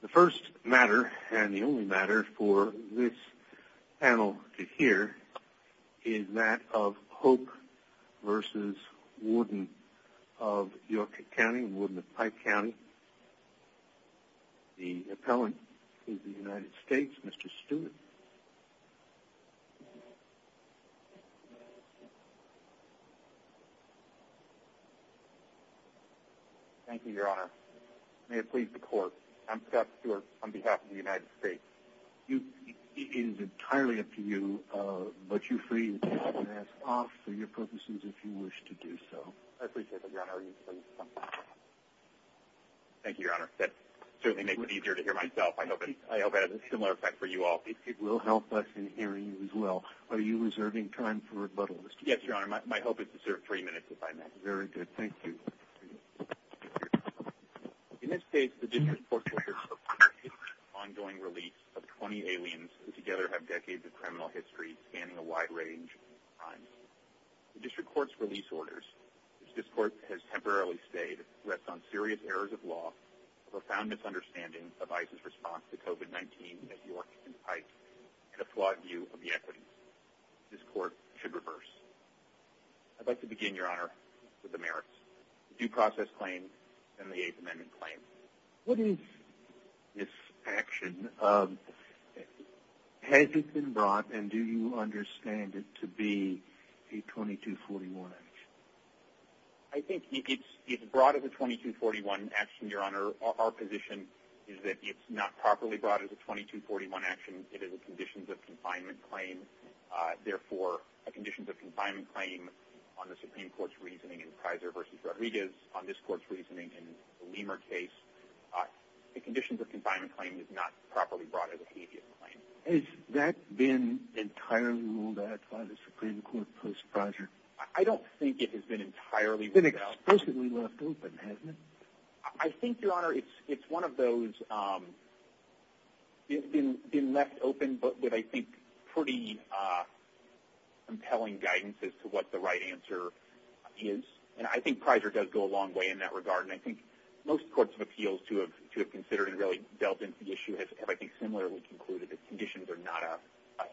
The first matter and the only matter for this panel to hear is that of Hope v. Warden of York County, Warden of Pike County, the appellant to the United States, Mr. Stewart. Thank you, Your Honor. May it please the Court, I'm Scott Stewart on behalf of the United States. It is entirely up to you, but you free to take your mask off for your purposes if you wish to do so. I appreciate that, Your Honor. Thank you, Your Honor. That certainly makes it easier to hear myself. I hope it has a similar effect for you all. It will help us in hearing you as well. Are you reserving time for rebuttal, Mr. Stewart? Yes, Your Honor. My hope is to serve three minutes if I may. Very good. Thank you. In this case, the District Court's release of 20 aliens who together have decades of criminal history scanning a wide range of crimes. The District Court's release orders, which this Court has temporarily stayed, rests on serious errors of law, a profound misunderstanding of ICE's response to COVID-19 at York and Pike, and a flawed view of the equities. This Court should reverse. I'd like to begin, Your Honor, with the merits. The due process claim and the Eighth Amendment claim. What is this action? Has it been brought, and do you understand it to be a 2241 action? I think it's brought as a 2241 action, Your Honor. Our position is that it's not properly brought as a 2241 action. It is a conditions of confinement claim. Therefore, a conditions of confinement claim on the Supreme Court's reasoning in Kaiser v. Rodriguez, on this Court's reasoning in the Lemer case, a conditions of confinement claim is not properly brought as a habeas claim. Has that been entirely ruled out by the Supreme Court post-Kaiser? I don't think it has been entirely ruled out. It's been explicitly left open, hasn't it? I think, Your Honor, it's one of those. It's been left open, but with, I think, pretty compelling guidance as to what the right answer is. And I think Kaiser does go a long way in that regard. And I think most courts of appeals to have considered and really delved into the issue have, I think, similarly concluded that conditions are not a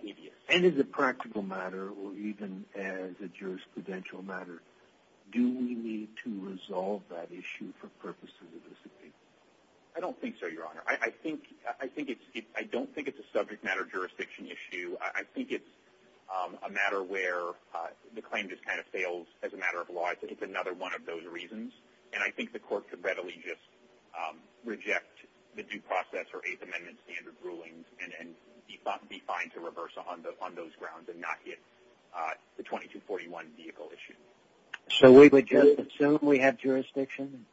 habeas. And as a practical matter, or even as a jurisprudential matter, do we need to resolve that issue for purposes of this appeal? I don't think so, Your Honor. I don't think it's a subject matter jurisdiction issue. I think it's a matter where the claim just kind of fails as a matter of law. I think it's another one of those reasons. And I think the court could readily just reject the due process or Eighth Amendment standard rulings and be fine to reverse on those grounds and not hit the 2241 vehicle issue. So we would just assume we have jurisdiction?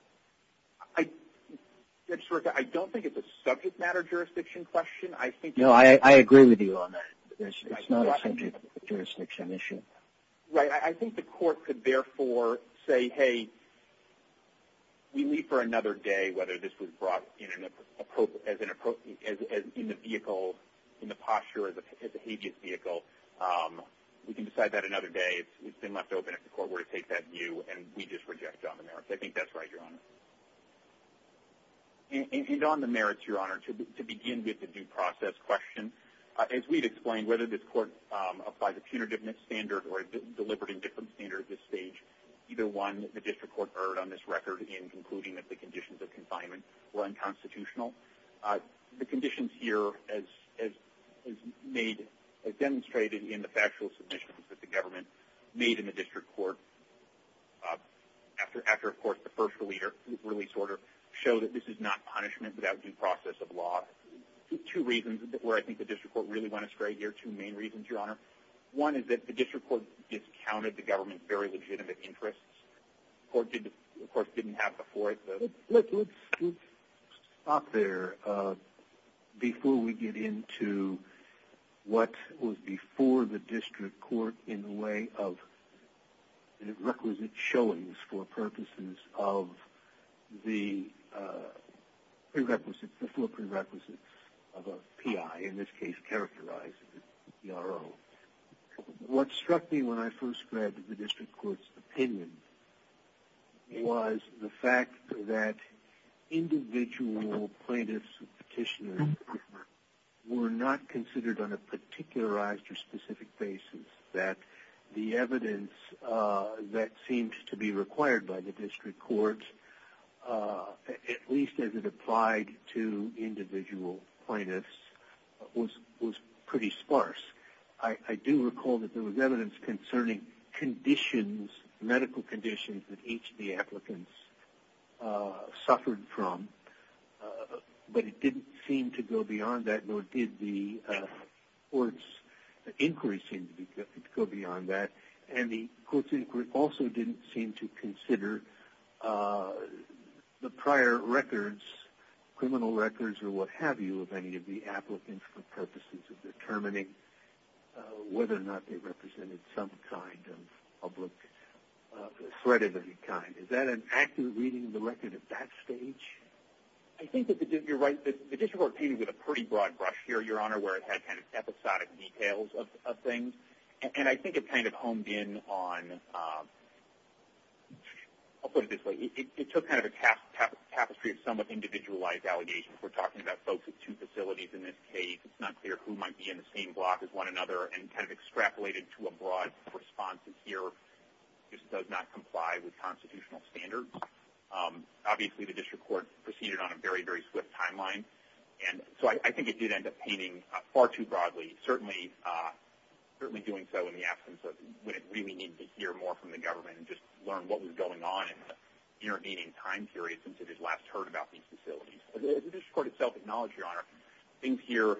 I don't think it's a subject matter jurisdiction question. No, I agree with you on that. It's not a subject matter jurisdiction issue. Right. I think the court could, therefore, say, hey, we leave for another day whether this was brought in the vehicle, in the posture as a habeas vehicle. We can decide that another day. It's been left open if the court were to take that view, and we just reject it on the merits. I think that's right, Your Honor. And on the merits, Your Honor, to begin with the due process question, as we've explained, whether this court applies a punitiveness standard or a deliberate indifference standard at this stage, either one, the district court erred on this record in concluding that the conditions of confinement were unconstitutional. The conditions here, as demonstrated in the factual submissions that the government made in the district court, after, of course, the first release order, show that this is not punishment without due process of law. Two reasons where I think the district court really went astray here, two main reasons, Your Honor. One is that the district court discounted the government's very legitimate interests. The court, of course, didn't have before. Let's stop there before we get into what was before the district court in the way of requisite showings for purposes of the prerequisites, the full prerequisites of a PI, in this case characterized as a PRO. What struck me when I first read the district court's opinion was the fact that individual plaintiffs and petitioners were not considered on a particularized or specific basis, that the evidence that seemed to be required by the district court, at least as it applied to individual plaintiffs, was pretty sparse. I do recall that there was evidence concerning conditions, medical conditions, that each of the applicants suffered from, but it didn't seem to go beyond that, nor did the court's inquiry seem to go beyond that. And the court's inquiry also didn't seem to consider the prior records, criminal records or what have you, of any of the applicants for purposes of determining whether or not they represented some kind of public threat of any kind. Is that an accurate reading of the record at that stage? I think that you're right. The district court came in with a pretty broad brush here, Your Honor, where it had kind of episodic details of things. And I think it kind of honed in on – I'll put it this way. It took kind of a tapestry of somewhat individualized allegations. We're talking about folks with two facilities in this case. It's not clear who might be in the same block as one another and kind of extrapolated to a broad response. And here it just does not comply with constitutional standards. Obviously, the district court proceeded on a very, very swift timeline. And so I think it did end up painting far too broadly, certainly doing so in the absence of when it really needed to hear more from the government and just learn what was going on in the intervening time period since it had last heard about these facilities. The district court itself acknowledged, Your Honor, things here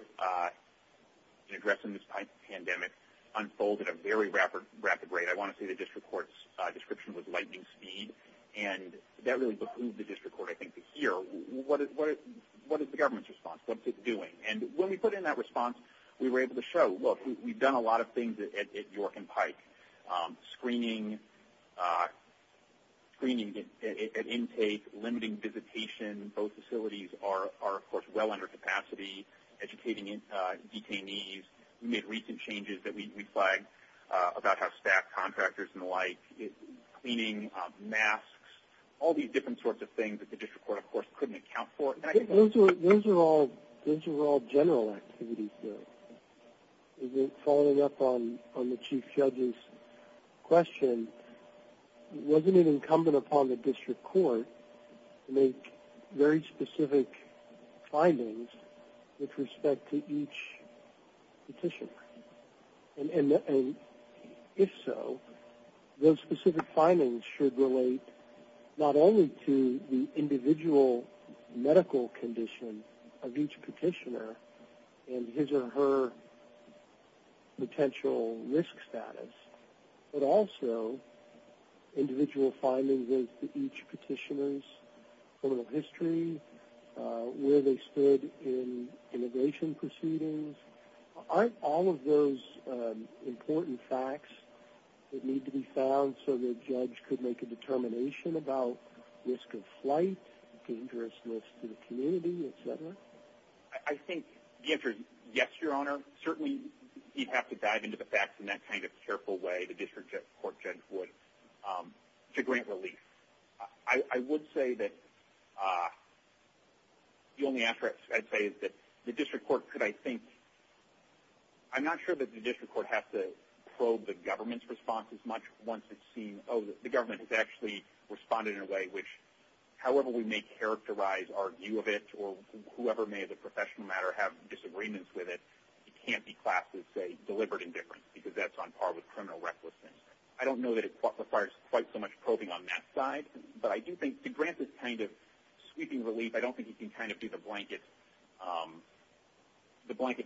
in addressing this type of pandemic unfolded at a very rapid rate. I want to say the district court's description was lightning speed. And that really behooved the district court, I think, to hear what is the government's response, what's it doing. And when we put in that response, we were able to show, look, we've done a lot of things at York and Pike. Screening at intake, limiting visitation, both facilities are, of course, well under capacity, educating detainees. We made recent changes that we flagged about how staff, contractors, and the like, cleaning, masks, all these different sorts of things that the district court, of course, couldn't account for. Those are all general activities, though. Following up on the chief judge's question, wasn't it incumbent upon the district court to make very specific findings with respect to each petitioner? And if so, those specific findings should relate not only to the individual medical condition of each petitioner and his or her potential risk status, but also individual findings as to each petitioner's criminal history, where they stood in immigration proceedings. Aren't all of those important facts that need to be found so the judge could make a determination about risk of flight, dangerousness to the community, et cetera? I think the answer is yes, Your Honor. Certainly, you'd have to dive into the facts in that kind of careful way the district court judge would to grant relief. I would say that the only answer I'd say is that the district court could, I think, I'm not sure that the district court has to probe the government's response as much once it's seen, oh, the government has actually responded in a way which, however we may characterize our view of it or whoever may, as a professional matter, have disagreements with it, it can't be classed as, say, deliberate indifference because that's on par with criminal recklessness. I don't know that it requires quite so much probing on that side, but I do think to grant this kind of sweeping relief, I don't think you can kind of do the blanket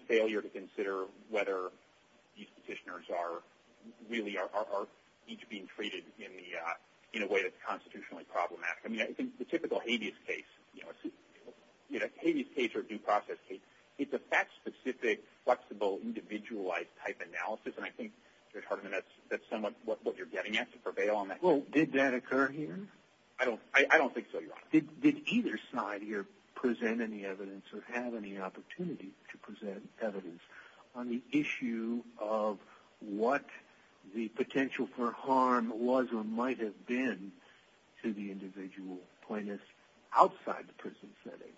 failure to consider whether these petitioners really are each being treated in a way that's constitutionally problematic. I mean, the typical habeas case, you know, a habeas case or due process case, it's a fact-specific, flexible, individualized type analysis, and I think, Judge Hardiman, that's somewhat what you're getting at to prevail on that. Well, did that occur here? I don't think so, Your Honor. Did either side here present any evidence or have any opportunity to present evidence on the issue of what the potential for harm was or might have been to the individual plaintiffs outside the prison setting?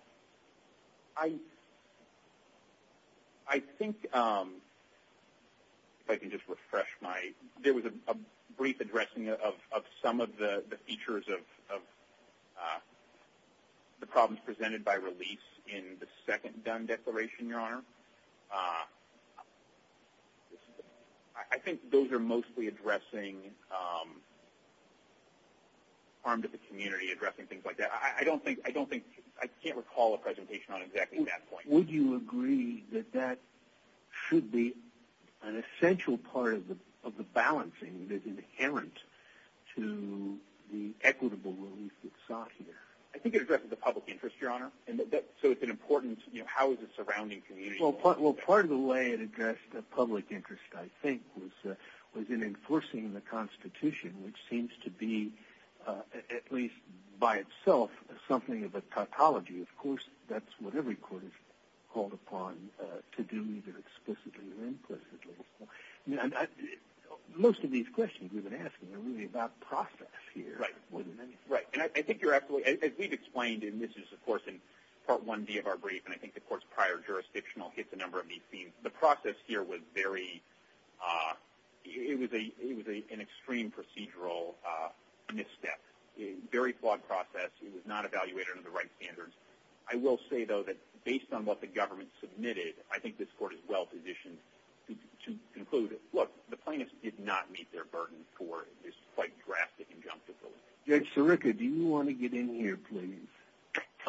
I think, if I can just refresh my – there was a brief addressing of some of the features of the problems presented by release in the second Dunn Declaration, Your Honor. I think those are mostly addressing harm to the community, addressing things like that. I don't think – I can't recall a presentation on exactly that point. Would you agree that that should be an essential part of the balancing that's inherent to the equitable relief that's sought here? I think it addresses the public interest, Your Honor. So it's an important – how is it surrounding communities? Well, part of the way it addressed the public interest, I think, was in enforcing the Constitution, which seems to be, at least by itself, something of a tautology. Of course, that's what every court is called upon to do, either explicitly or implicitly. Most of these questions you've been asking are really about process here more than anything. Right, and I think you're absolutely – as we've explained, and this is, of course, in Part 1B of our brief, and I think the Court's prior jurisdictional hits a number of these themes. The process here was very – it was an extreme procedural misstep, a very flawed process. It was not evaluated under the right standards. I will say, though, that based on what the government submitted, I think this Court is well-positioned to conclude, look, the plaintiffs did not meet their burden for this quite drastic injunctive relief. Judge Sirica, do you want to get in here, please?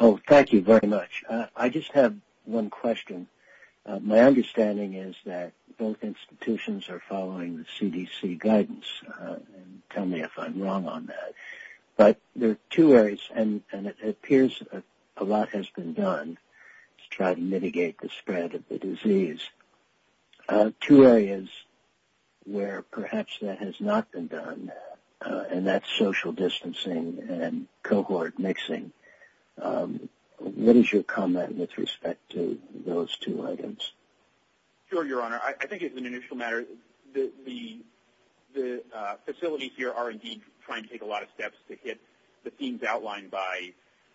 Oh, thank you very much. I just have one question. My understanding is that both institutions are following the CDC guidance. Tell me if I'm wrong on that. But there are two areas, and it appears a lot has been done to try to mitigate the spread of the disease. Two areas where perhaps that has not been done, and that's social distancing and cohort mixing. What is your comment with respect to those two items? Sure, Your Honor. I think as an initial matter, the facilities here are indeed trying to take a lot of steps to hit the themes outlined by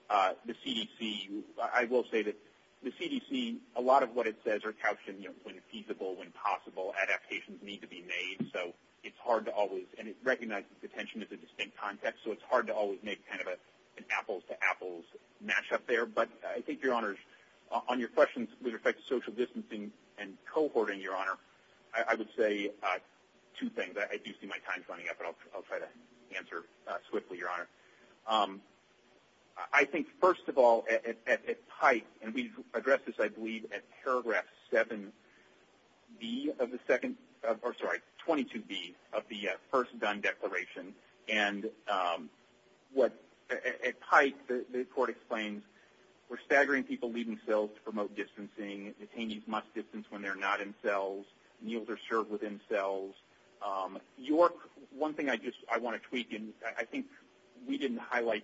the CDC. I will say that the CDC, a lot of what it says are caution, you know, when feasible, when possible, adaptations need to be made. So it's hard to always, and it recognizes detention as a distinct context, so it's hard to always make kind of an apples-to-apples mashup there. But I think, Your Honor, on your questions with respect to social distancing and cohorting, Your Honor, I would say two things. I do see my time's running out, but I'll try to answer swiftly, Your Honor. I think, first of all, at PIPE, and we addressed this, I believe, at paragraph 7B of the second or, sorry, 22B of the first DUN declaration. And at PIPE, the court explains, we're staggering people leaving cells to promote distancing. Detainees must distance when they're not in cells. Meals are served within cells. York, one thing I just want to tweak, and I think we didn't highlight,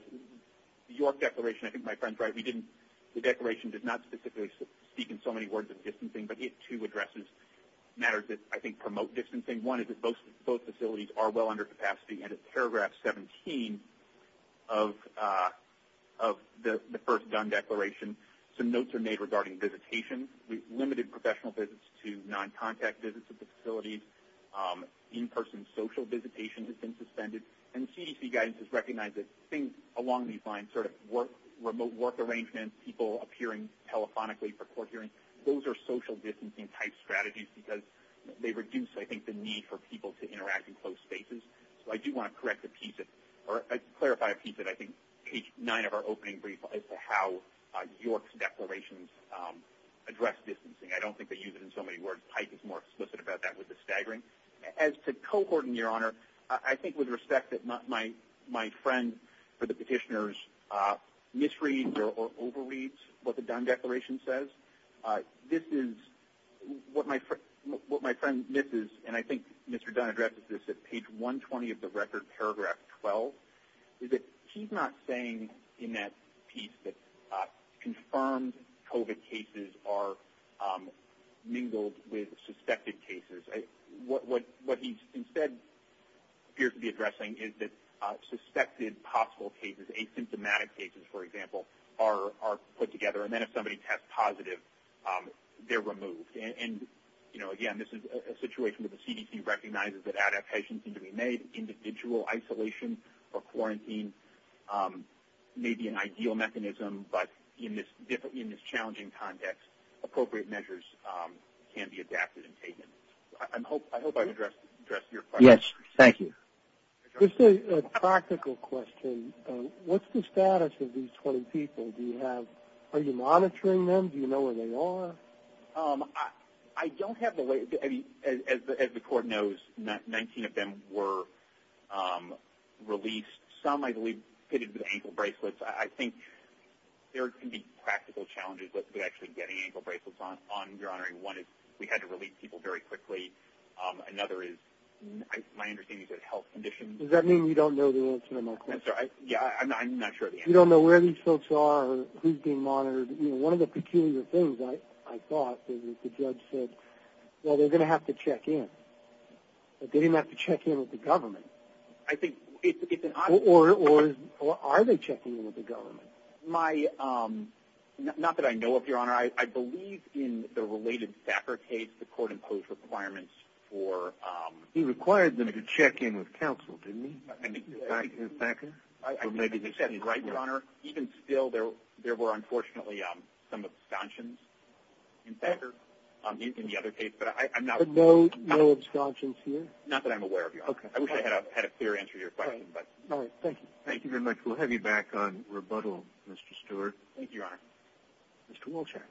the York Declaration, I think my friend's right, we didn't, the declaration did not specifically speak in so many words of distancing, but it, too, addresses matters that I think promote distancing. One is that both facilities are well under capacity. And at paragraph 17 of the first DUN declaration, some notes are made regarding visitation. We've limited professional visits to non-contact visits at the facilities. In-person social visitation has been suspended. And CDC guidance has recognized that things along these lines, sort of work, remote work arrangements, people appearing telephonically for court hearings, those are social distancing-type strategies because they reduce, I think, the need for people to interact in closed spaces. So I do want to correct a piece, or clarify a piece at, I think, page 9 of our opening brief as to how York's declarations address distancing. I don't think they use it in so many words. Pike is more explicit about that with the staggering. As to cohorting, Your Honor, I think with respect that my friend for the petitioners misreads or overreads what the DUN declaration says, this is what my friend misses, and I think Mr. Dunn addressed this at page 120 of the record, paragraph 12, is that he's not saying in that piece that confirmed COVID cases are mingled with suspected cases. What he instead appears to be addressing is that suspected possible cases, asymptomatic cases, for example, are put together. And then if somebody tests positive, they're removed. And, you know, again, this is a situation where the CDC recognizes that adaptations need to be made, and individual isolation or quarantine may be an ideal mechanism, but in this challenging context, appropriate measures can be adapted and taken. I hope I've addressed your question. Yes, thank you. Just a practical question, what's the status of these 20 people? Are you monitoring them? Do you know where they are? I don't have the latest. As the Court knows, 19 of them were released. Some, I believe, fitted with ankle bracelets. I think there can be practical challenges with actually getting ankle bracelets on, Your Honor. One is we had to release people very quickly. Another is my understanding is a health condition. Does that mean you don't know the answer to my question? Yeah, I'm not sure of the answer. You don't know where these folks are or who's being monitored? One of the peculiar things, I thought, is that the judge said, well, they're going to have to check in. But they didn't have to check in with the government. Or are they checking in with the government? My – not that I know of, Your Honor. I believe in the related Thacker case, the court imposed requirements for – He required them to check in with counsel, didn't he, Thacker? You said it right, Your Honor. Even still, there were, unfortunately, some abstentions in Thacker, in the other case. But I'm not – But no abstentions here? Not that I'm aware of, Your Honor. Okay. I wish I had a clear answer to your question. All right. Thank you. Thank you very much. We'll have you back on rebuttal, Mr. Stewart. Thank you, Your Honor. Mr. Wolchak.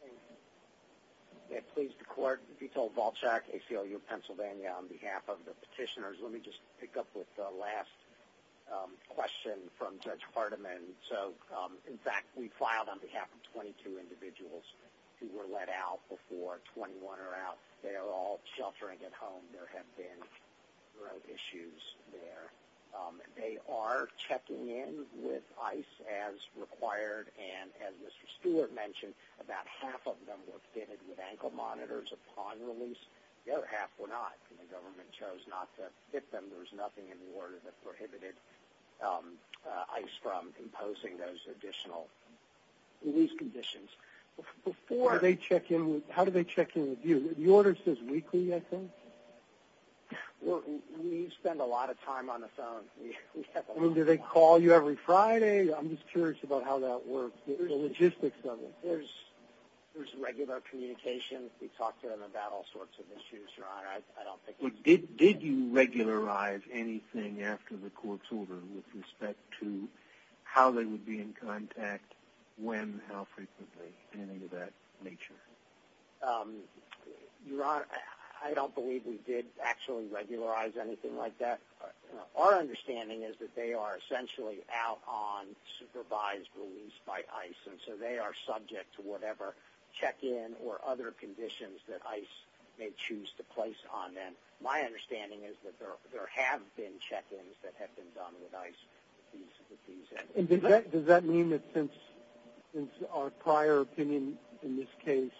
Thank you. It pleased the court. Vito Wolchak, ACLU of Pennsylvania. On behalf of the petitioners, let me just pick up with the last question from Judge Hardiman. So, in fact, we filed on behalf of 22 individuals who were let out before. 21 are out. They are all sheltering at home. There have been road issues there. They are checking in with ICE as required. And as Mr. Stewart mentioned, about half of them were fitted with ankle monitors upon release. The other half were not. And the government chose not to fit them. There was nothing in the order that prohibited ICE from imposing those additional release conditions. Before – How do they check in with you? The order says weekly, I think? We spend a lot of time on the phone. Do they call you every Friday? I'm just curious about how that works, the logistics of it. There's regular communication. We talk to them about all sorts of issues, Your Honor. I don't think it's – Did you regularize anything after the court's order with respect to how they would be in contact, when, how frequently, anything of that nature? Your Honor, I don't believe we did actually regularize anything like that. Our understanding is that they are essentially out on supervised release by ICE, and so they are subject to whatever check-in or other conditions that ICE may choose to place on them. My understanding is that there have been check-ins that have been done with ICE with these entities. And does that mean that since our prior opinion in this case,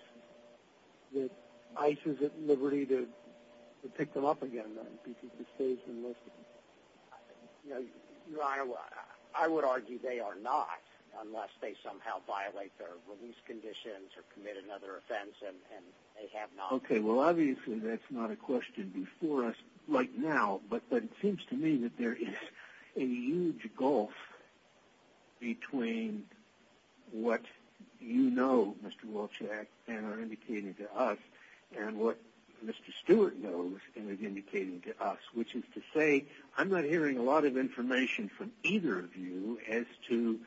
that ICE is at liberty to pick them up again because it stays enlisted? Your Honor, I would argue they are not, unless they somehow violate their release conditions or commit another offense, and they have not. Okay, well, obviously that's not a question before us right now, but it seems to me that there is a huge gulf between what you know, Mr. Wolchek, and are indicating to us, and what Mr. Stewart knows and is indicating to us, which is to say I'm not hearing a lot of information from either of you as to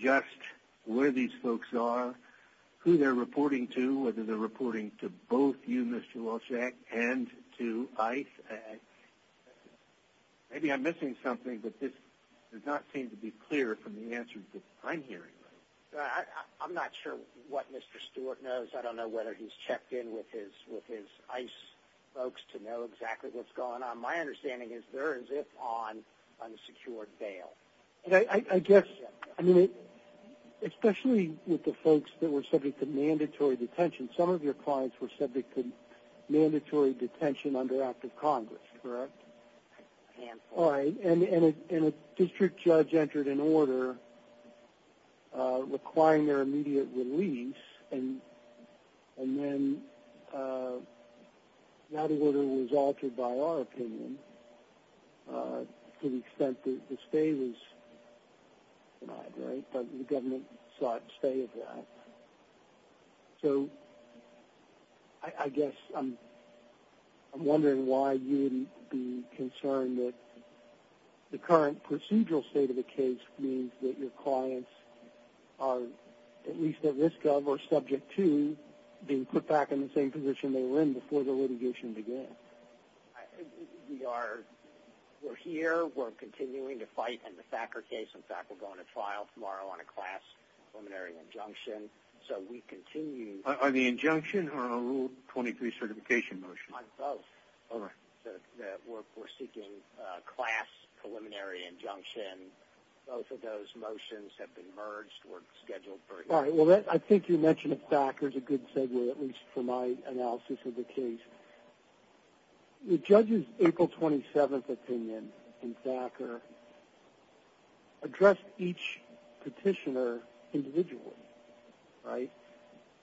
just where these folks are, who they're reporting to, whether they're reporting to both you, Mr. Wolchek, and to ICE. Maybe I'm missing something, but this does not seem to be clear from the answers that I'm hearing. I'm not sure what Mr. Stewart knows. I don't know whether he's checked in with his ICE folks to know exactly what's going on. My understanding is they're as if on unsecured bail. I guess, especially with the folks that were subject to mandatory detention, some of your clients were subject to mandatory detention under Act of Congress, correct? And a district judge entered an order requiring their immediate release, and then that order was altered by our opinion to the extent that the stay was denied, right? But the government sought to stay at that. So I guess I'm wondering why you wouldn't be concerned that the current procedural state of the case means that your clients are at least at risk of or subject to being put back in the same position they were in before the litigation began. We're here. We're continuing to fight in the Thacker case. In fact, we're going to trial tomorrow on a class preliminary injunction, so we continue. On the injunction or on a Rule 23 certification motion? On both. All right. We're seeking a class preliminary injunction. Both of those motions have been merged. We're scheduled for a hearing. All right. Well, I think you mentioned that Thacker is a good segue, at least for my analysis of the case. The judge's April 27th opinion in Thacker addressed each petitioner individually, right,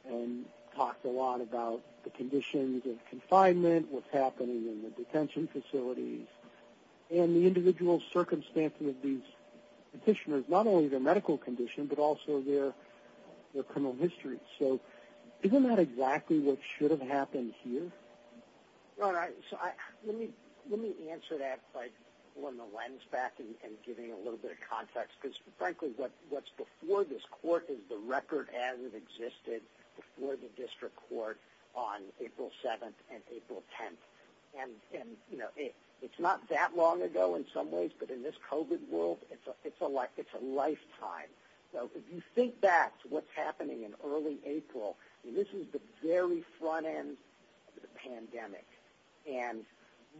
and talked a lot about the conditions of confinement, what's happening in the detention facilities, and the individual circumstances of these petitioners, not only their medical condition, but also their criminal history. So isn't that exactly what should have happened here? All right. So let me answer that by pulling the lens back and giving a little bit of context, because, frankly, what's before this court is the record as it existed before the district court on April 7th and April 10th. And, you know, it's not that long ago in some ways, but in this COVID world, it's a lifetime. So if you think back to what's happening in early April, this is the very front end of the pandemic. And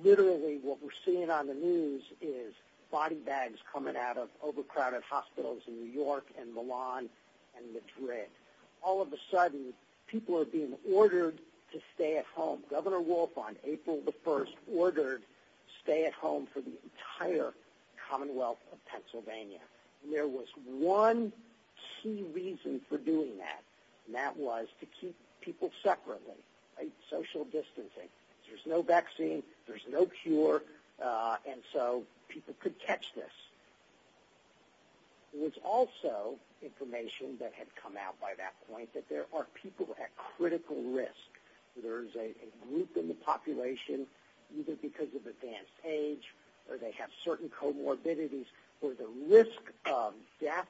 literally what we're seeing on the news is body bags coming out of overcrowded hospitals in New York and Milan and Madrid. All of a sudden, people are being ordered to stay at home. Governor Wolf on April 1st ordered stay at home for the entire Commonwealth of Pennsylvania. There was one key reason for doing that, and that was to keep people separately, right, social distancing. There's no vaccine. There's no cure. And so people could catch this. There was also information that had come out by that point that there are people at critical risk. There is a group in the population, either because of advanced age or they have certain comorbidities, where the risk of death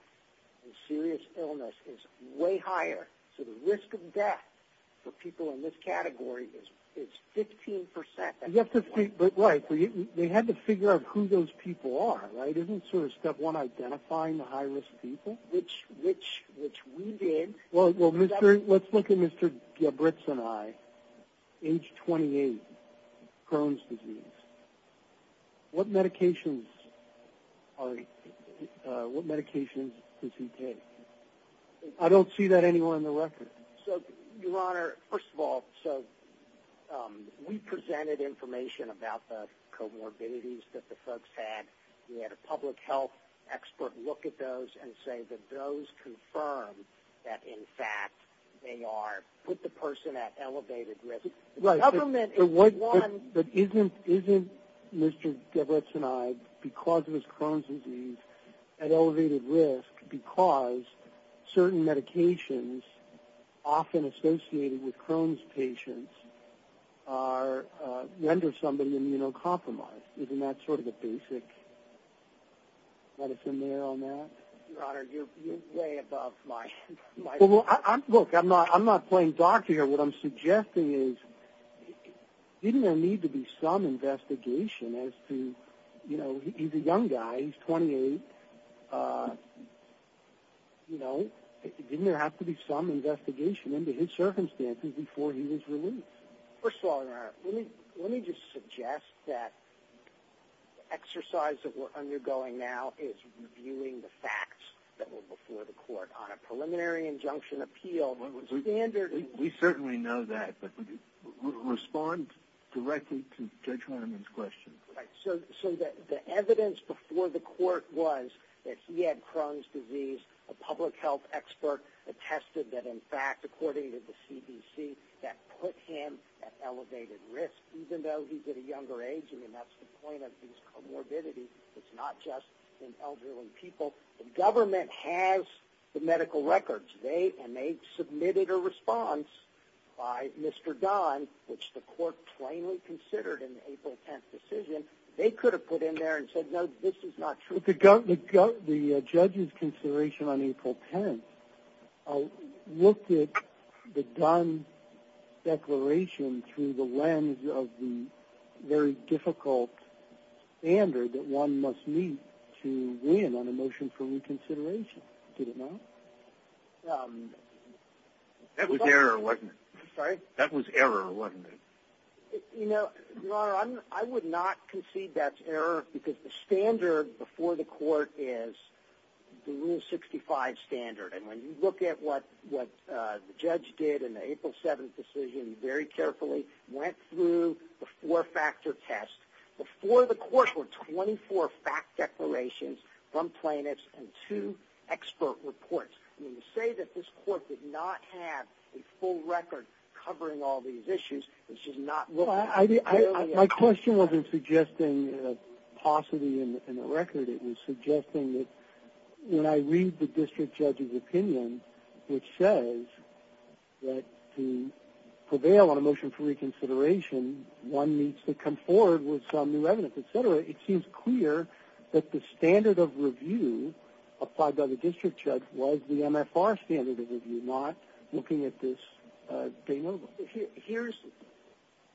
and serious illness is way higher. So the risk of death for people in this category is 15% at this point. But, right, they had to figure out who those people are, right? Isn't sort of step one identifying the high-risk people? Which we did. Well, let's look at Mr. Gebritz and I, age 28, Crohn's disease. What medications does he take? I don't see that anywhere in the record. So, Your Honor, first of all, so we presented information about the comorbidities that the folks had. We had a public health expert look at those and say that those confirm that, in fact, they are with the person at elevated risk. But isn't Mr. Gebritz and I, because of his Crohn's disease, at elevated risk because certain medications often associated with Crohn's patients render somebody immunocompromised? Isn't that sort of the basic medicine there on that? Your Honor, you're way above my level. Well, look, I'm not playing doctor here. What I'm suggesting is didn't there need to be some investigation as to, you know, he's a young guy. He's 28. You know, didn't there have to be some investigation into his circumstances before he was released? First of all, Your Honor, let me just suggest that the exercise that we're undergoing now is reviewing the facts that were before the court on a preliminary injunction appeal. We certainly know that, but respond directly to Judge Harneman's question. So the evidence before the court was that he had Crohn's disease. A public health expert attested that, in fact, according to the CDC, that put him at elevated risk. Even though he's at a younger age, I mean, that's the point of these comorbidities. It's not just in elderly people. The government has the medical records, and they submitted a response by Mr. Dunn, which the court plainly considered in the April 10th decision. They could have put in there and said, no, this is not true. But the judge's consideration on April 10th looked at the Dunn declaration through the lens of the very difficult standard that one must meet to win on a motion for reconsideration. Did it not? That was error, wasn't it? Sorry? That was error, wasn't it? Your Honor, I would not concede that's error because the standard before the court is the Rule 65 standard. And when you look at what the judge did in the April 7th decision, he very carefully went through the four-factor test. Before the court were 24 fact declarations from plaintiffs and two expert reports. When you say that this court did not have a full record covering all these issues, it's just not looking at the elderly. My question wasn't suggesting a paucity in the record. It was suggesting that when I read the district judge's opinion, which says that to prevail on a motion for reconsideration, one needs to come forward with some new evidence, et cetera, it seems clear that the standard of review applied by the district judge was the MFR standard of review, not looking at this de novo. Here's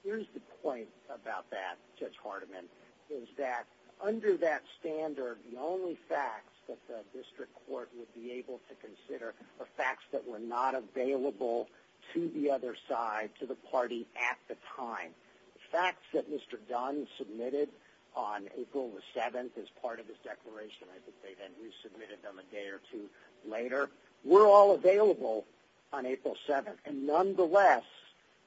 the point about that, Judge Hardiman, is that under that standard the only facts that the district court would be able to consider are facts that were not available to the other side, to the party at the time. The facts that Mr. Dunn submitted on April 7th as part of his declaration, I think they then resubmitted them a day or two later, were all available on April 7th. And nonetheless,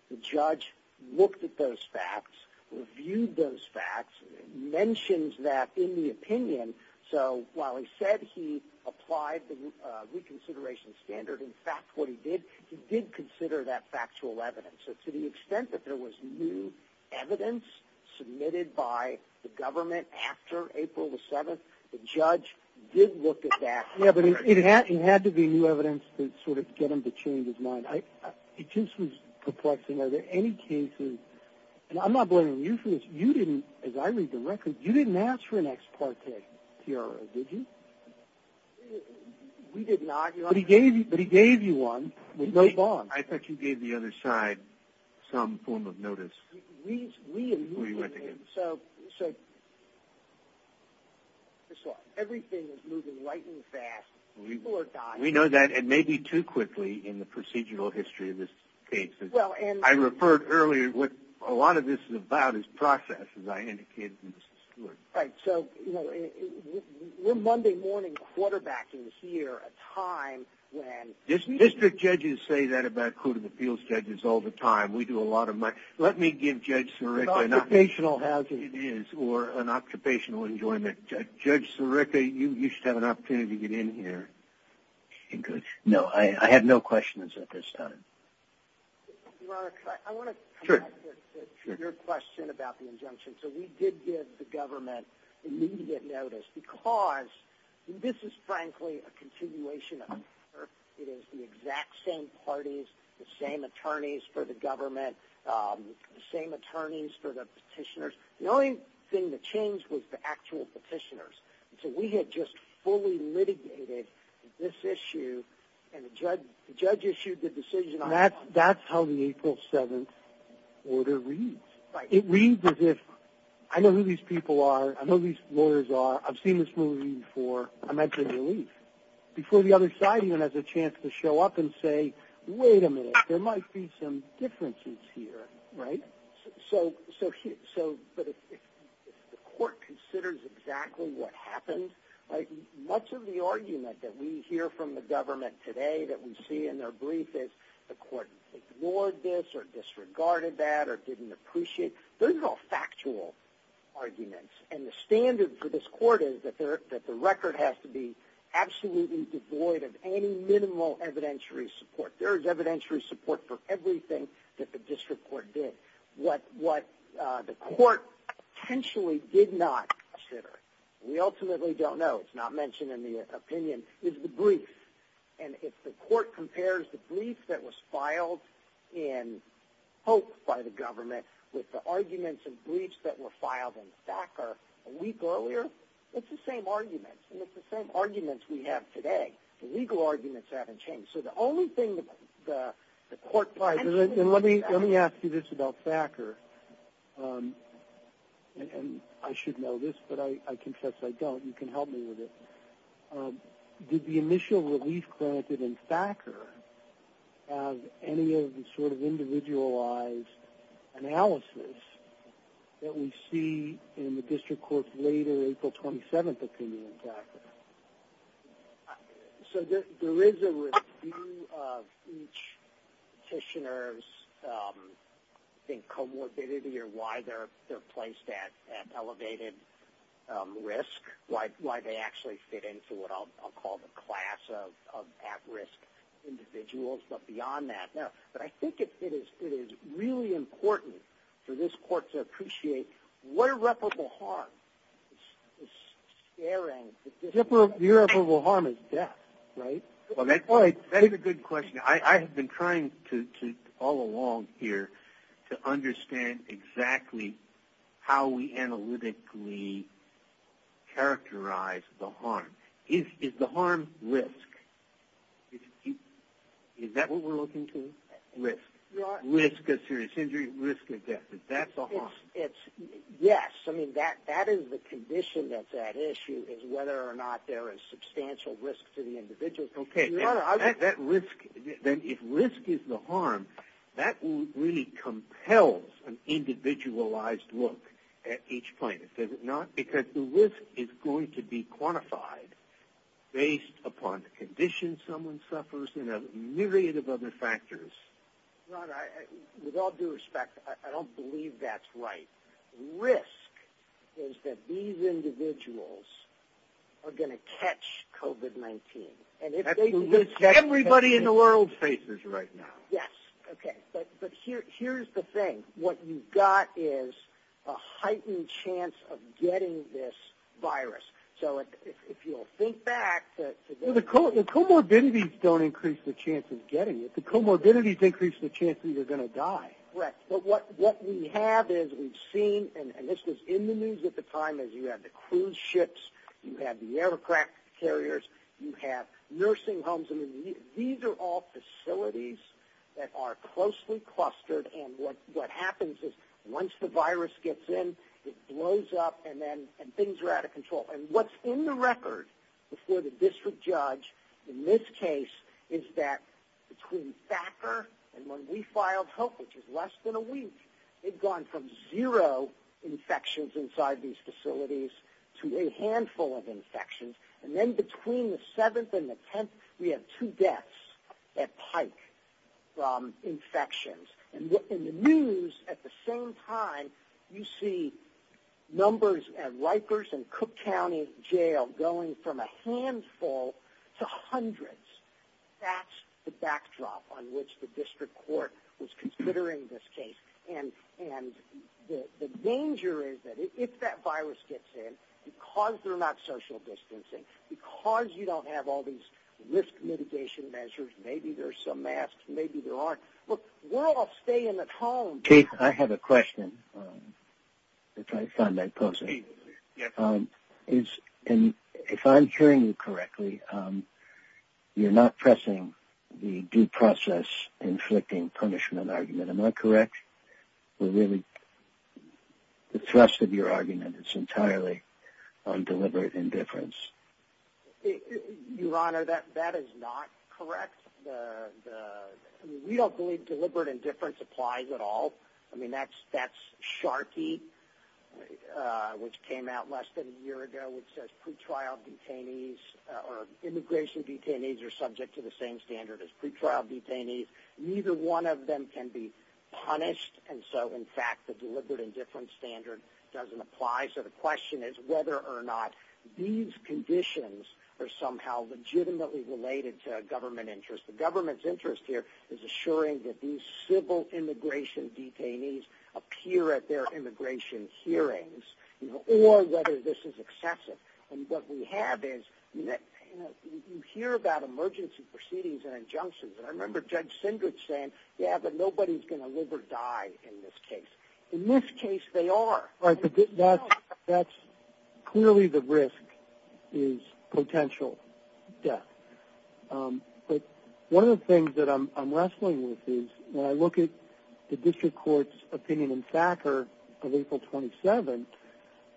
the judge looked at those facts, reviewed those facts, mentions that in the opinion, so while he said he applied the reconsideration standard, in fact what he did, he did consider that factual evidence. So to the extent that there was new evidence submitted by the government after April 7th, the judge did look at that. Yeah, but it had to be new evidence to sort of get him to change his mind. It just was perplexing. Are there any cases, and I'm not blaming you for this, you didn't, as I read the record, you didn't ask for an ex parte PRO, did you? We did not. But he gave you one with no bond. I thought you gave the other side some form of notice before you went to him. So everything is moving light and fast. People are dying. We know that. It may be too quickly in the procedural history of this case. I referred earlier, what a lot of this is about is process, as I indicated to Mr. Stewart. Right. District judges say that about Code of Appeals judges all the time. We do a lot of my, let me give Judge Sirica an opportunity. An occupational hazard. It is, or an occupational enjoyment. Judge Sirica, you should have an opportunity to get in here. No, I have no questions at this time. Your Honor, I want to come back to your question about the injunction. So we did give the government immediate notice because this is, frankly, a continuation of it. It is the exact same parties, the same attorneys for the government, the same attorneys for the petitioners. The only thing that changed was the actual petitioners. So we had just fully litigated this issue, and the judge issued the decision on it. That's how the April 7th order reads. It reads as if, I know who these people are. I know who these lawyers are. I've seen this movie before. I'm at the relief. Before the other side even has a chance to show up and say, wait a minute, there might be some differences here. Right. So, but if the court considers exactly what happened, much of the argument that we hear from the government today that we see in their brief is, the court ignored this or disregarded that or didn't appreciate, those are all factual arguments. And the standard for this court is that the record has to be absolutely devoid of any minimal evidentiary support. There is evidentiary support for everything that the district court did. What the court potentially did not consider, we ultimately don't know, it's not mentioned in the opinion, is the brief. And if the court compares the brief that was filed in Hope by the government with the arguments and briefs that were filed in Thacker a week earlier, it's the same arguments. And it's the same arguments we have today. The legal arguments haven't changed. So the only thing the court- Let me ask you this about Thacker. And I should know this, but I confess I don't. You can help me with this. Did the initial relief granted in Thacker have any of the sort of individualized analysis that we see in the district court's later April 27th opinion in Thacker? So there is a review of each petitioner's, I think, comorbidity or why they're placed at elevated risk, why they actually fit into what I'll call the class of at-risk individuals. But beyond that, no. But I think it is really important for this court to appreciate what irreparable harm is scaring- The irreparable harm is death, right? That is a good question. I have been trying all along here to understand exactly how we analytically characterize the harm. Is the harm risk? Is that what we're looking to? Risk. Risk of serious injury, risk of death. Is that the harm? Yes. I mean, that is the condition that's at issue is whether or not there is substantial risk to the individual. Okay. Then if risk is the harm, that really compels an individualized look at each plaintiff, does it not? Because the risk is going to be quantified based upon the condition someone suffers and a myriad of other factors. Ron, with all due respect, I don't believe that's right. Risk is that these individuals are going to catch COVID-19. Absolutely. That's what everybody in the world faces right now. Yes. Okay. But here's the thing. What you've got is a heightened chance of getting this virus. So if you'll think back to- The comorbidities don't increase the chance of getting it. The comorbidities increase the chance that you're going to die. Correct. But what we have is we've seen, and this was in the news at the time, is you have the cruise ships, you have the aircraft carriers, you have nursing homes. These are all facilities that are closely clustered, and what happens is once the virus gets in, it blows up and then things are out of control. And what's in the record before the district judge in this case is that between Thacker and when we filed help, which is less than a week, they've gone from zero infections inside these facilities to a handful of infections. And then between the 7th and the 10th, we have two deaths at Pike from infections. And in the news at the same time, you see numbers at Rikers and Cook County Jail going from a handful to hundreds. That's the backdrop on which the district court was considering this case. And the danger is that if that virus gets in, because they're not social distancing, because you don't have all these risk mitigation measures, maybe there's some masks, maybe there aren't. Look, we're all staying at home. Keith, I have a question that I found by posting. Yes. If I'm hearing you correctly, you're not pressing the due process inflicting punishment argument. Am I correct? The thrust of your argument is entirely on deliberate indifference. Your Honor, that is not correct. We don't believe deliberate indifference applies at all. I mean, that's Sharkey, which came out less than a year ago, which says pre-trial detainees or immigration detainees are subject to the same standard as pre-trial detainees. Neither one of them can be punished. And so, in fact, the deliberate indifference standard doesn't apply. So the question is whether or not these conditions are somehow legitimately related to government interest. The government's interest here is assuring that these civil immigration detainees appear at their immigration hearings or whether this is excessive. And what we have is that you hear about emergency proceedings and injunctions. And I remember Judge Sindrich saying, yeah, but nobody's going to live or die in this case. In this case, they are. Right, but that's clearly the risk is potential death. But one of the things that I'm wrestling with is when I look at the district court's opinion in Thacker of April 27th,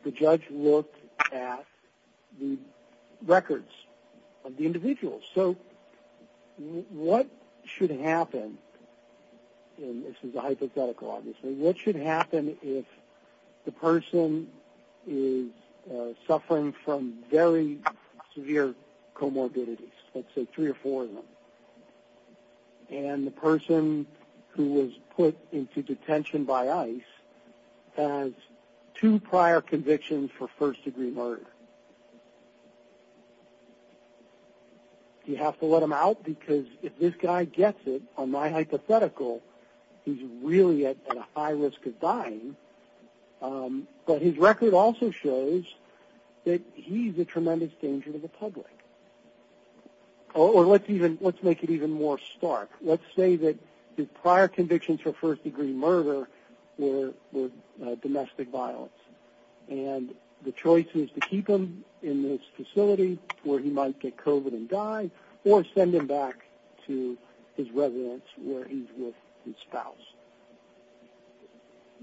the judge looked at the records of the individuals. So what should happen, and this is a hypothetical obviously, what should happen if the person is suffering from very severe comorbidities, let's say three or four of them, and the person who was put into detention by ICE has two prior convictions for first-degree murder? Do you have to let him out? Because if this guy gets it, on my hypothetical, he's really at a high risk of dying. But his record also shows that he's a tremendous danger to the public. Or let's make it even more stark. Let's say that his prior convictions for first-degree murder were domestic violence, and the choice is to keep him in this facility where he might get COVID and die or send him back to his residence where he's with his spouse.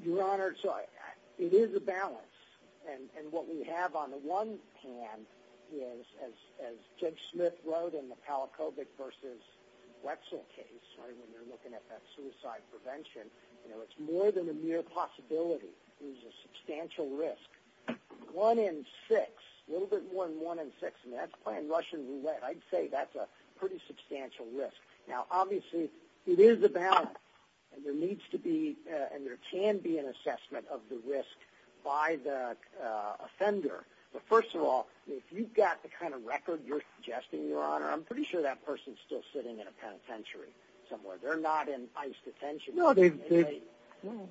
Your Honor, it is a balance. And what we have on the one hand is, as Judge Smith wrote in the Palachovic v. Wetzel case, when you're looking at that suicide prevention, it's more than a mere possibility. There's a substantial risk. One in six, a little bit more than one in six, and that's playing Russian roulette. I'd say that's a pretty substantial risk. Now, obviously, it is a balance, and there needs to be and there can be an assessment of the risk by the offender. But first of all, if you've got the kind of record you're suggesting, Your Honor, I'm pretty sure that person's still sitting in a penitentiary somewhere. They're not in ICE detention. No,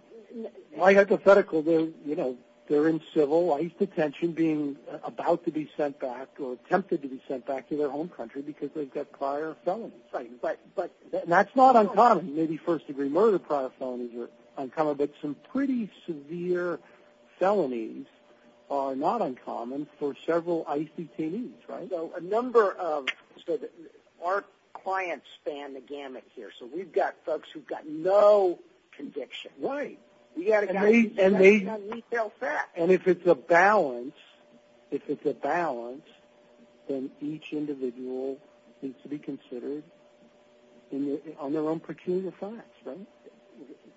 my hypothetical, they're in civil ICE detention being about to be sent back or attempted to be sent back to their home country because they've got prior felonies. That's right. But that's not uncommon. Maybe first-degree murder prior felonies are uncommon, but some pretty severe felonies are not uncommon for several ICE detainees, right? So a number of our clients span the gamut here. So we've got folks who've got no conviction. Right. And if it's a balance, if it's a balance, then each individual needs to be considered on their own peculiar facts, right?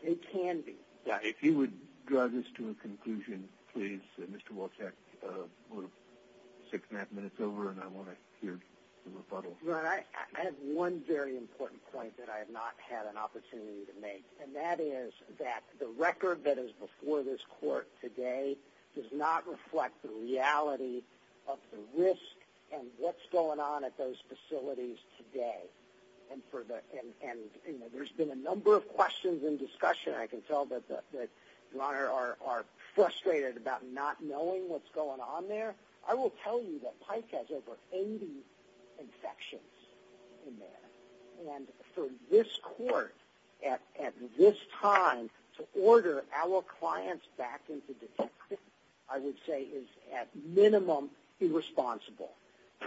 They can be. If you would drive this to a conclusion, please, Mr. Wolchek. We're six and a half minutes over, and I want to hear the rebuttal. Your Honor, I have one very important point that I have not had an opportunity to make, and that is that the record that is before this Court today does not reflect the reality of the risk and what's going on at those facilities today. And there's been a number of questions and discussion, and I can tell that you, Your Honor, are frustrated about not knowing what's going on there. I will tell you that Pike has over 80 infections in there. And for this Court at this time to order our clients back into detention, I would say is at minimum irresponsible.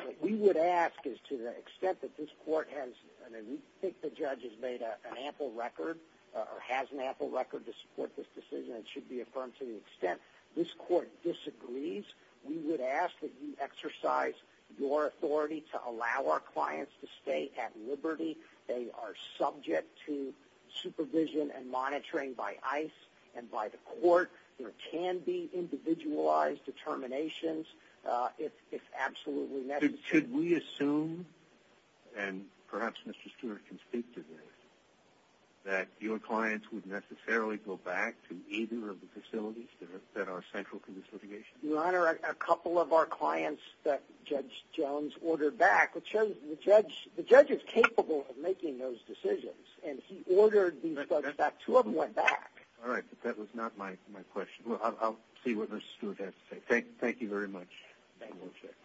What we would ask is to the extent that this Court has, and we think the judge has made an ample record or has an ample record to support this decision and should be affirmed to the extent this Court disagrees, we would ask that you exercise your authority to allow our clients to stay at liberty. They are subject to supervision and monitoring by ICE and by the Court. There can be individualized determinations if absolutely necessary. Could we assume, and perhaps Mr. Stewart can speak to this, that your clients would necessarily go back to either of the facilities that are central to this litigation? Your Honor, a couple of our clients that Judge Jones ordered back, which shows the judge is capable of making those decisions, and he ordered these folks back. Two of them went back. All right, but that was not my question. I'll see what Mr. Stewart has to say. Thank you very much.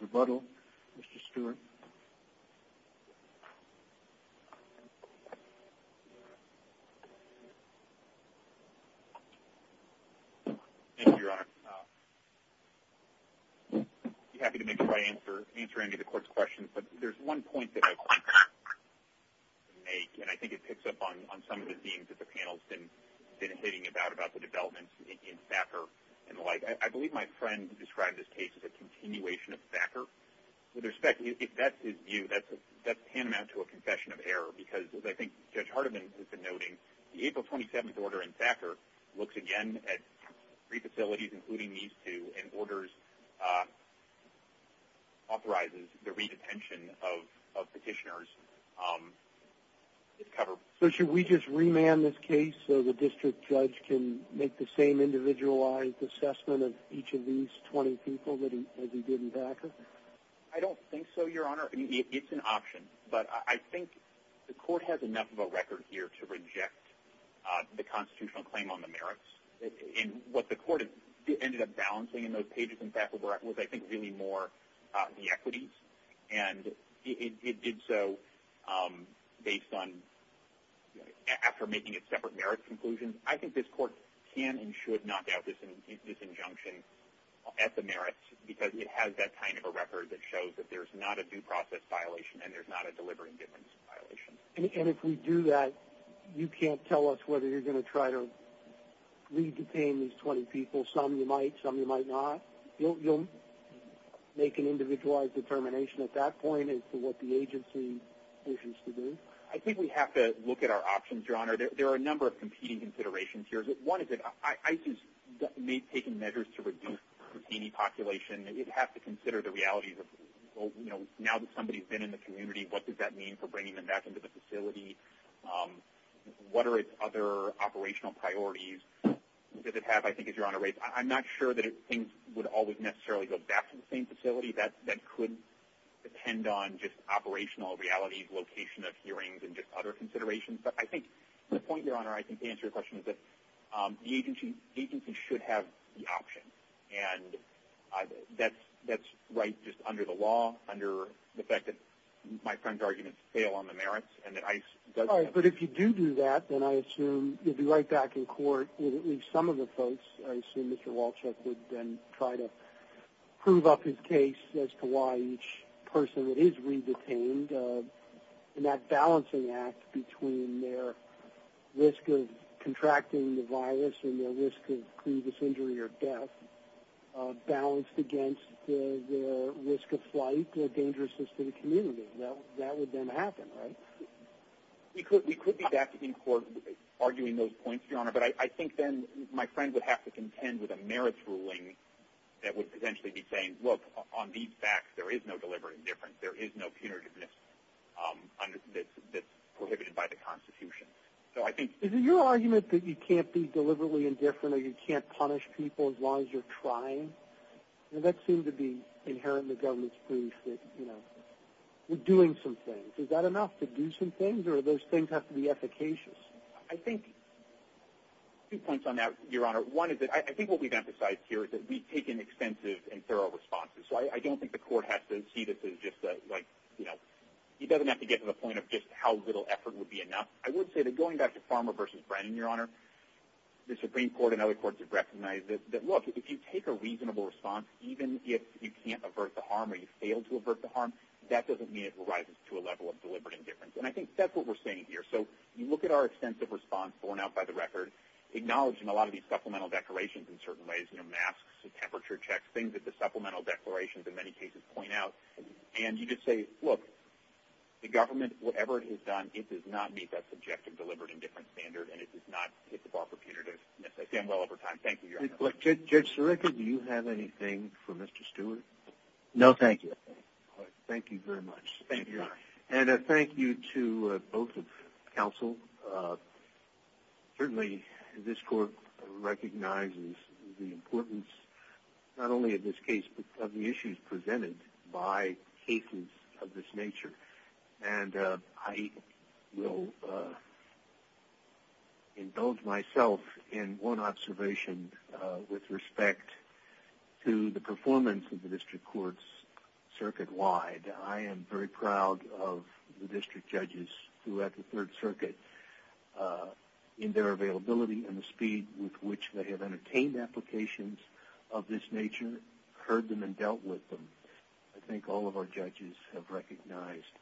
Rebuttal, Mr. Stewart? Thank you, Your Honor. I'd be happy to make sure I answer any of the Court's questions, but there's one point that I would like to make, and I think it picks up on some of the themes that the panel has been hitting about, about the developments in Thacker and the like. I believe my friend described this case as a continuation of Thacker. With respect, if that's his view, that's tantamount to a confession of error, because as I think Judge Hardiman has been noting, the April 27th order in Thacker looks again at three facilities, including these two, and authorizes the re-detention of petitioners. So should we just remand this case so the district judge can make the same individualized assessment of each of these 20 people as he did in Thacker? I don't think so, Your Honor. I mean, it's an option. But I think the Court has enough of a record here to reject the constitutional claim on the merits. And what the Court ended up balancing in those pages in Thacker was, I think, really more the equities, and it did so based on, after making its separate merits conclusions. I think this Court can and should knock out this injunction at the merits, because it has that kind of a record that shows that there's not a due process violation and there's not a delivery indifference violation. And if we do that, you can't tell us whether you're going to try to re-detain these 20 people. Some you might, some you might not. You'll make an individualized determination at that point as to what the agency wishes to do? I think we have to look at our options, Your Honor. There are a number of competing considerations here. One is that ICE has taken measures to reduce the pertaining population. It has to consider the realities of, you know, now that somebody's been in the community, what does that mean for bringing them back into the facility? What are its other operational priorities? Does it have, I think, as Your Honor rates, I'm not sure that things would always necessarily go back to the same facility. That could depend on just operational realities, location of hearings, and just other considerations. But I think the point, Your Honor, I think to answer your question is that the agency should have the option. And that's right just under the law, under the fact that my friend's arguments fail on the merits and that ICE doesn't. All right. But if you do do that, then I assume you'll be right back in court with at least some of the folks. I assume Mr. Walchuk would then try to prove up his case as to why each person is re-detained. And that balancing act between their risk of contracting the virus and their risk of previous injury or death balanced against the risk of flight or dangerousness to the community. That would then happen, right? We could be back in court arguing those points, Your Honor. But I think then my friend would have to contend with a merits ruling that would potentially be saying, look, on these facts, there is no deliberate indifference. There is no punitiveness that's prohibited by the Constitution. Is it your argument that you can't be deliberately indifferent or you can't punish people as long as you're trying? That seems to be inherent in the government's belief that we're doing some things. Is that enough to do some things or do those things have to be efficacious? I think two points on that, Your Honor. One is that I think what we've emphasized here is that we've taken extensive and thorough responses. So I don't think the court has to see this as just like, you know, he doesn't have to get to the point of just how little effort would be enough. I would say that going back to Farmer v. Brennan, Your Honor, the Supreme Court and other courts have recognized that, look, if you take a reasonable response, even if you can't avert the harm or you fail to avert the harm, that doesn't mean it rises to a level of deliberate indifference. And I think that's what we're saying here. So you look at our extensive response borne out by the record, acknowledging a lot of these supplemental declarations in certain ways, you know, masks and temperature checks, things that the supplemental declarations in many cases point out, and you just say, look, the government, whatever it has done, it does not meet that subjective deliberate indifference standard and it does not hit the bar for punitive necessity. I'm well over time. Thank you, Your Honor. Judge Sirica, do you have anything for Mr. Stewart? No, thank you. Thank you very much. And a thank you to both of counsel. Certainly this court recognizes the importance not only of this case but of the issues presented by cases of this nature. And I will indulge myself in one observation with respect to the performance of the district courts circuit-wide. I am very proud of the district judges throughout the Third Circuit in their availability and the speed with which they have entertained applications of this nature, heard them and dealt with them. I think all of our judges have recognized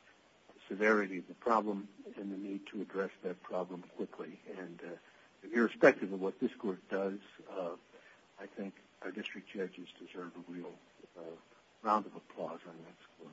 the severity of the problem and the need to address that problem quickly. And irrespective of what this court does, I think our district judges deserve a real round of applause on this court.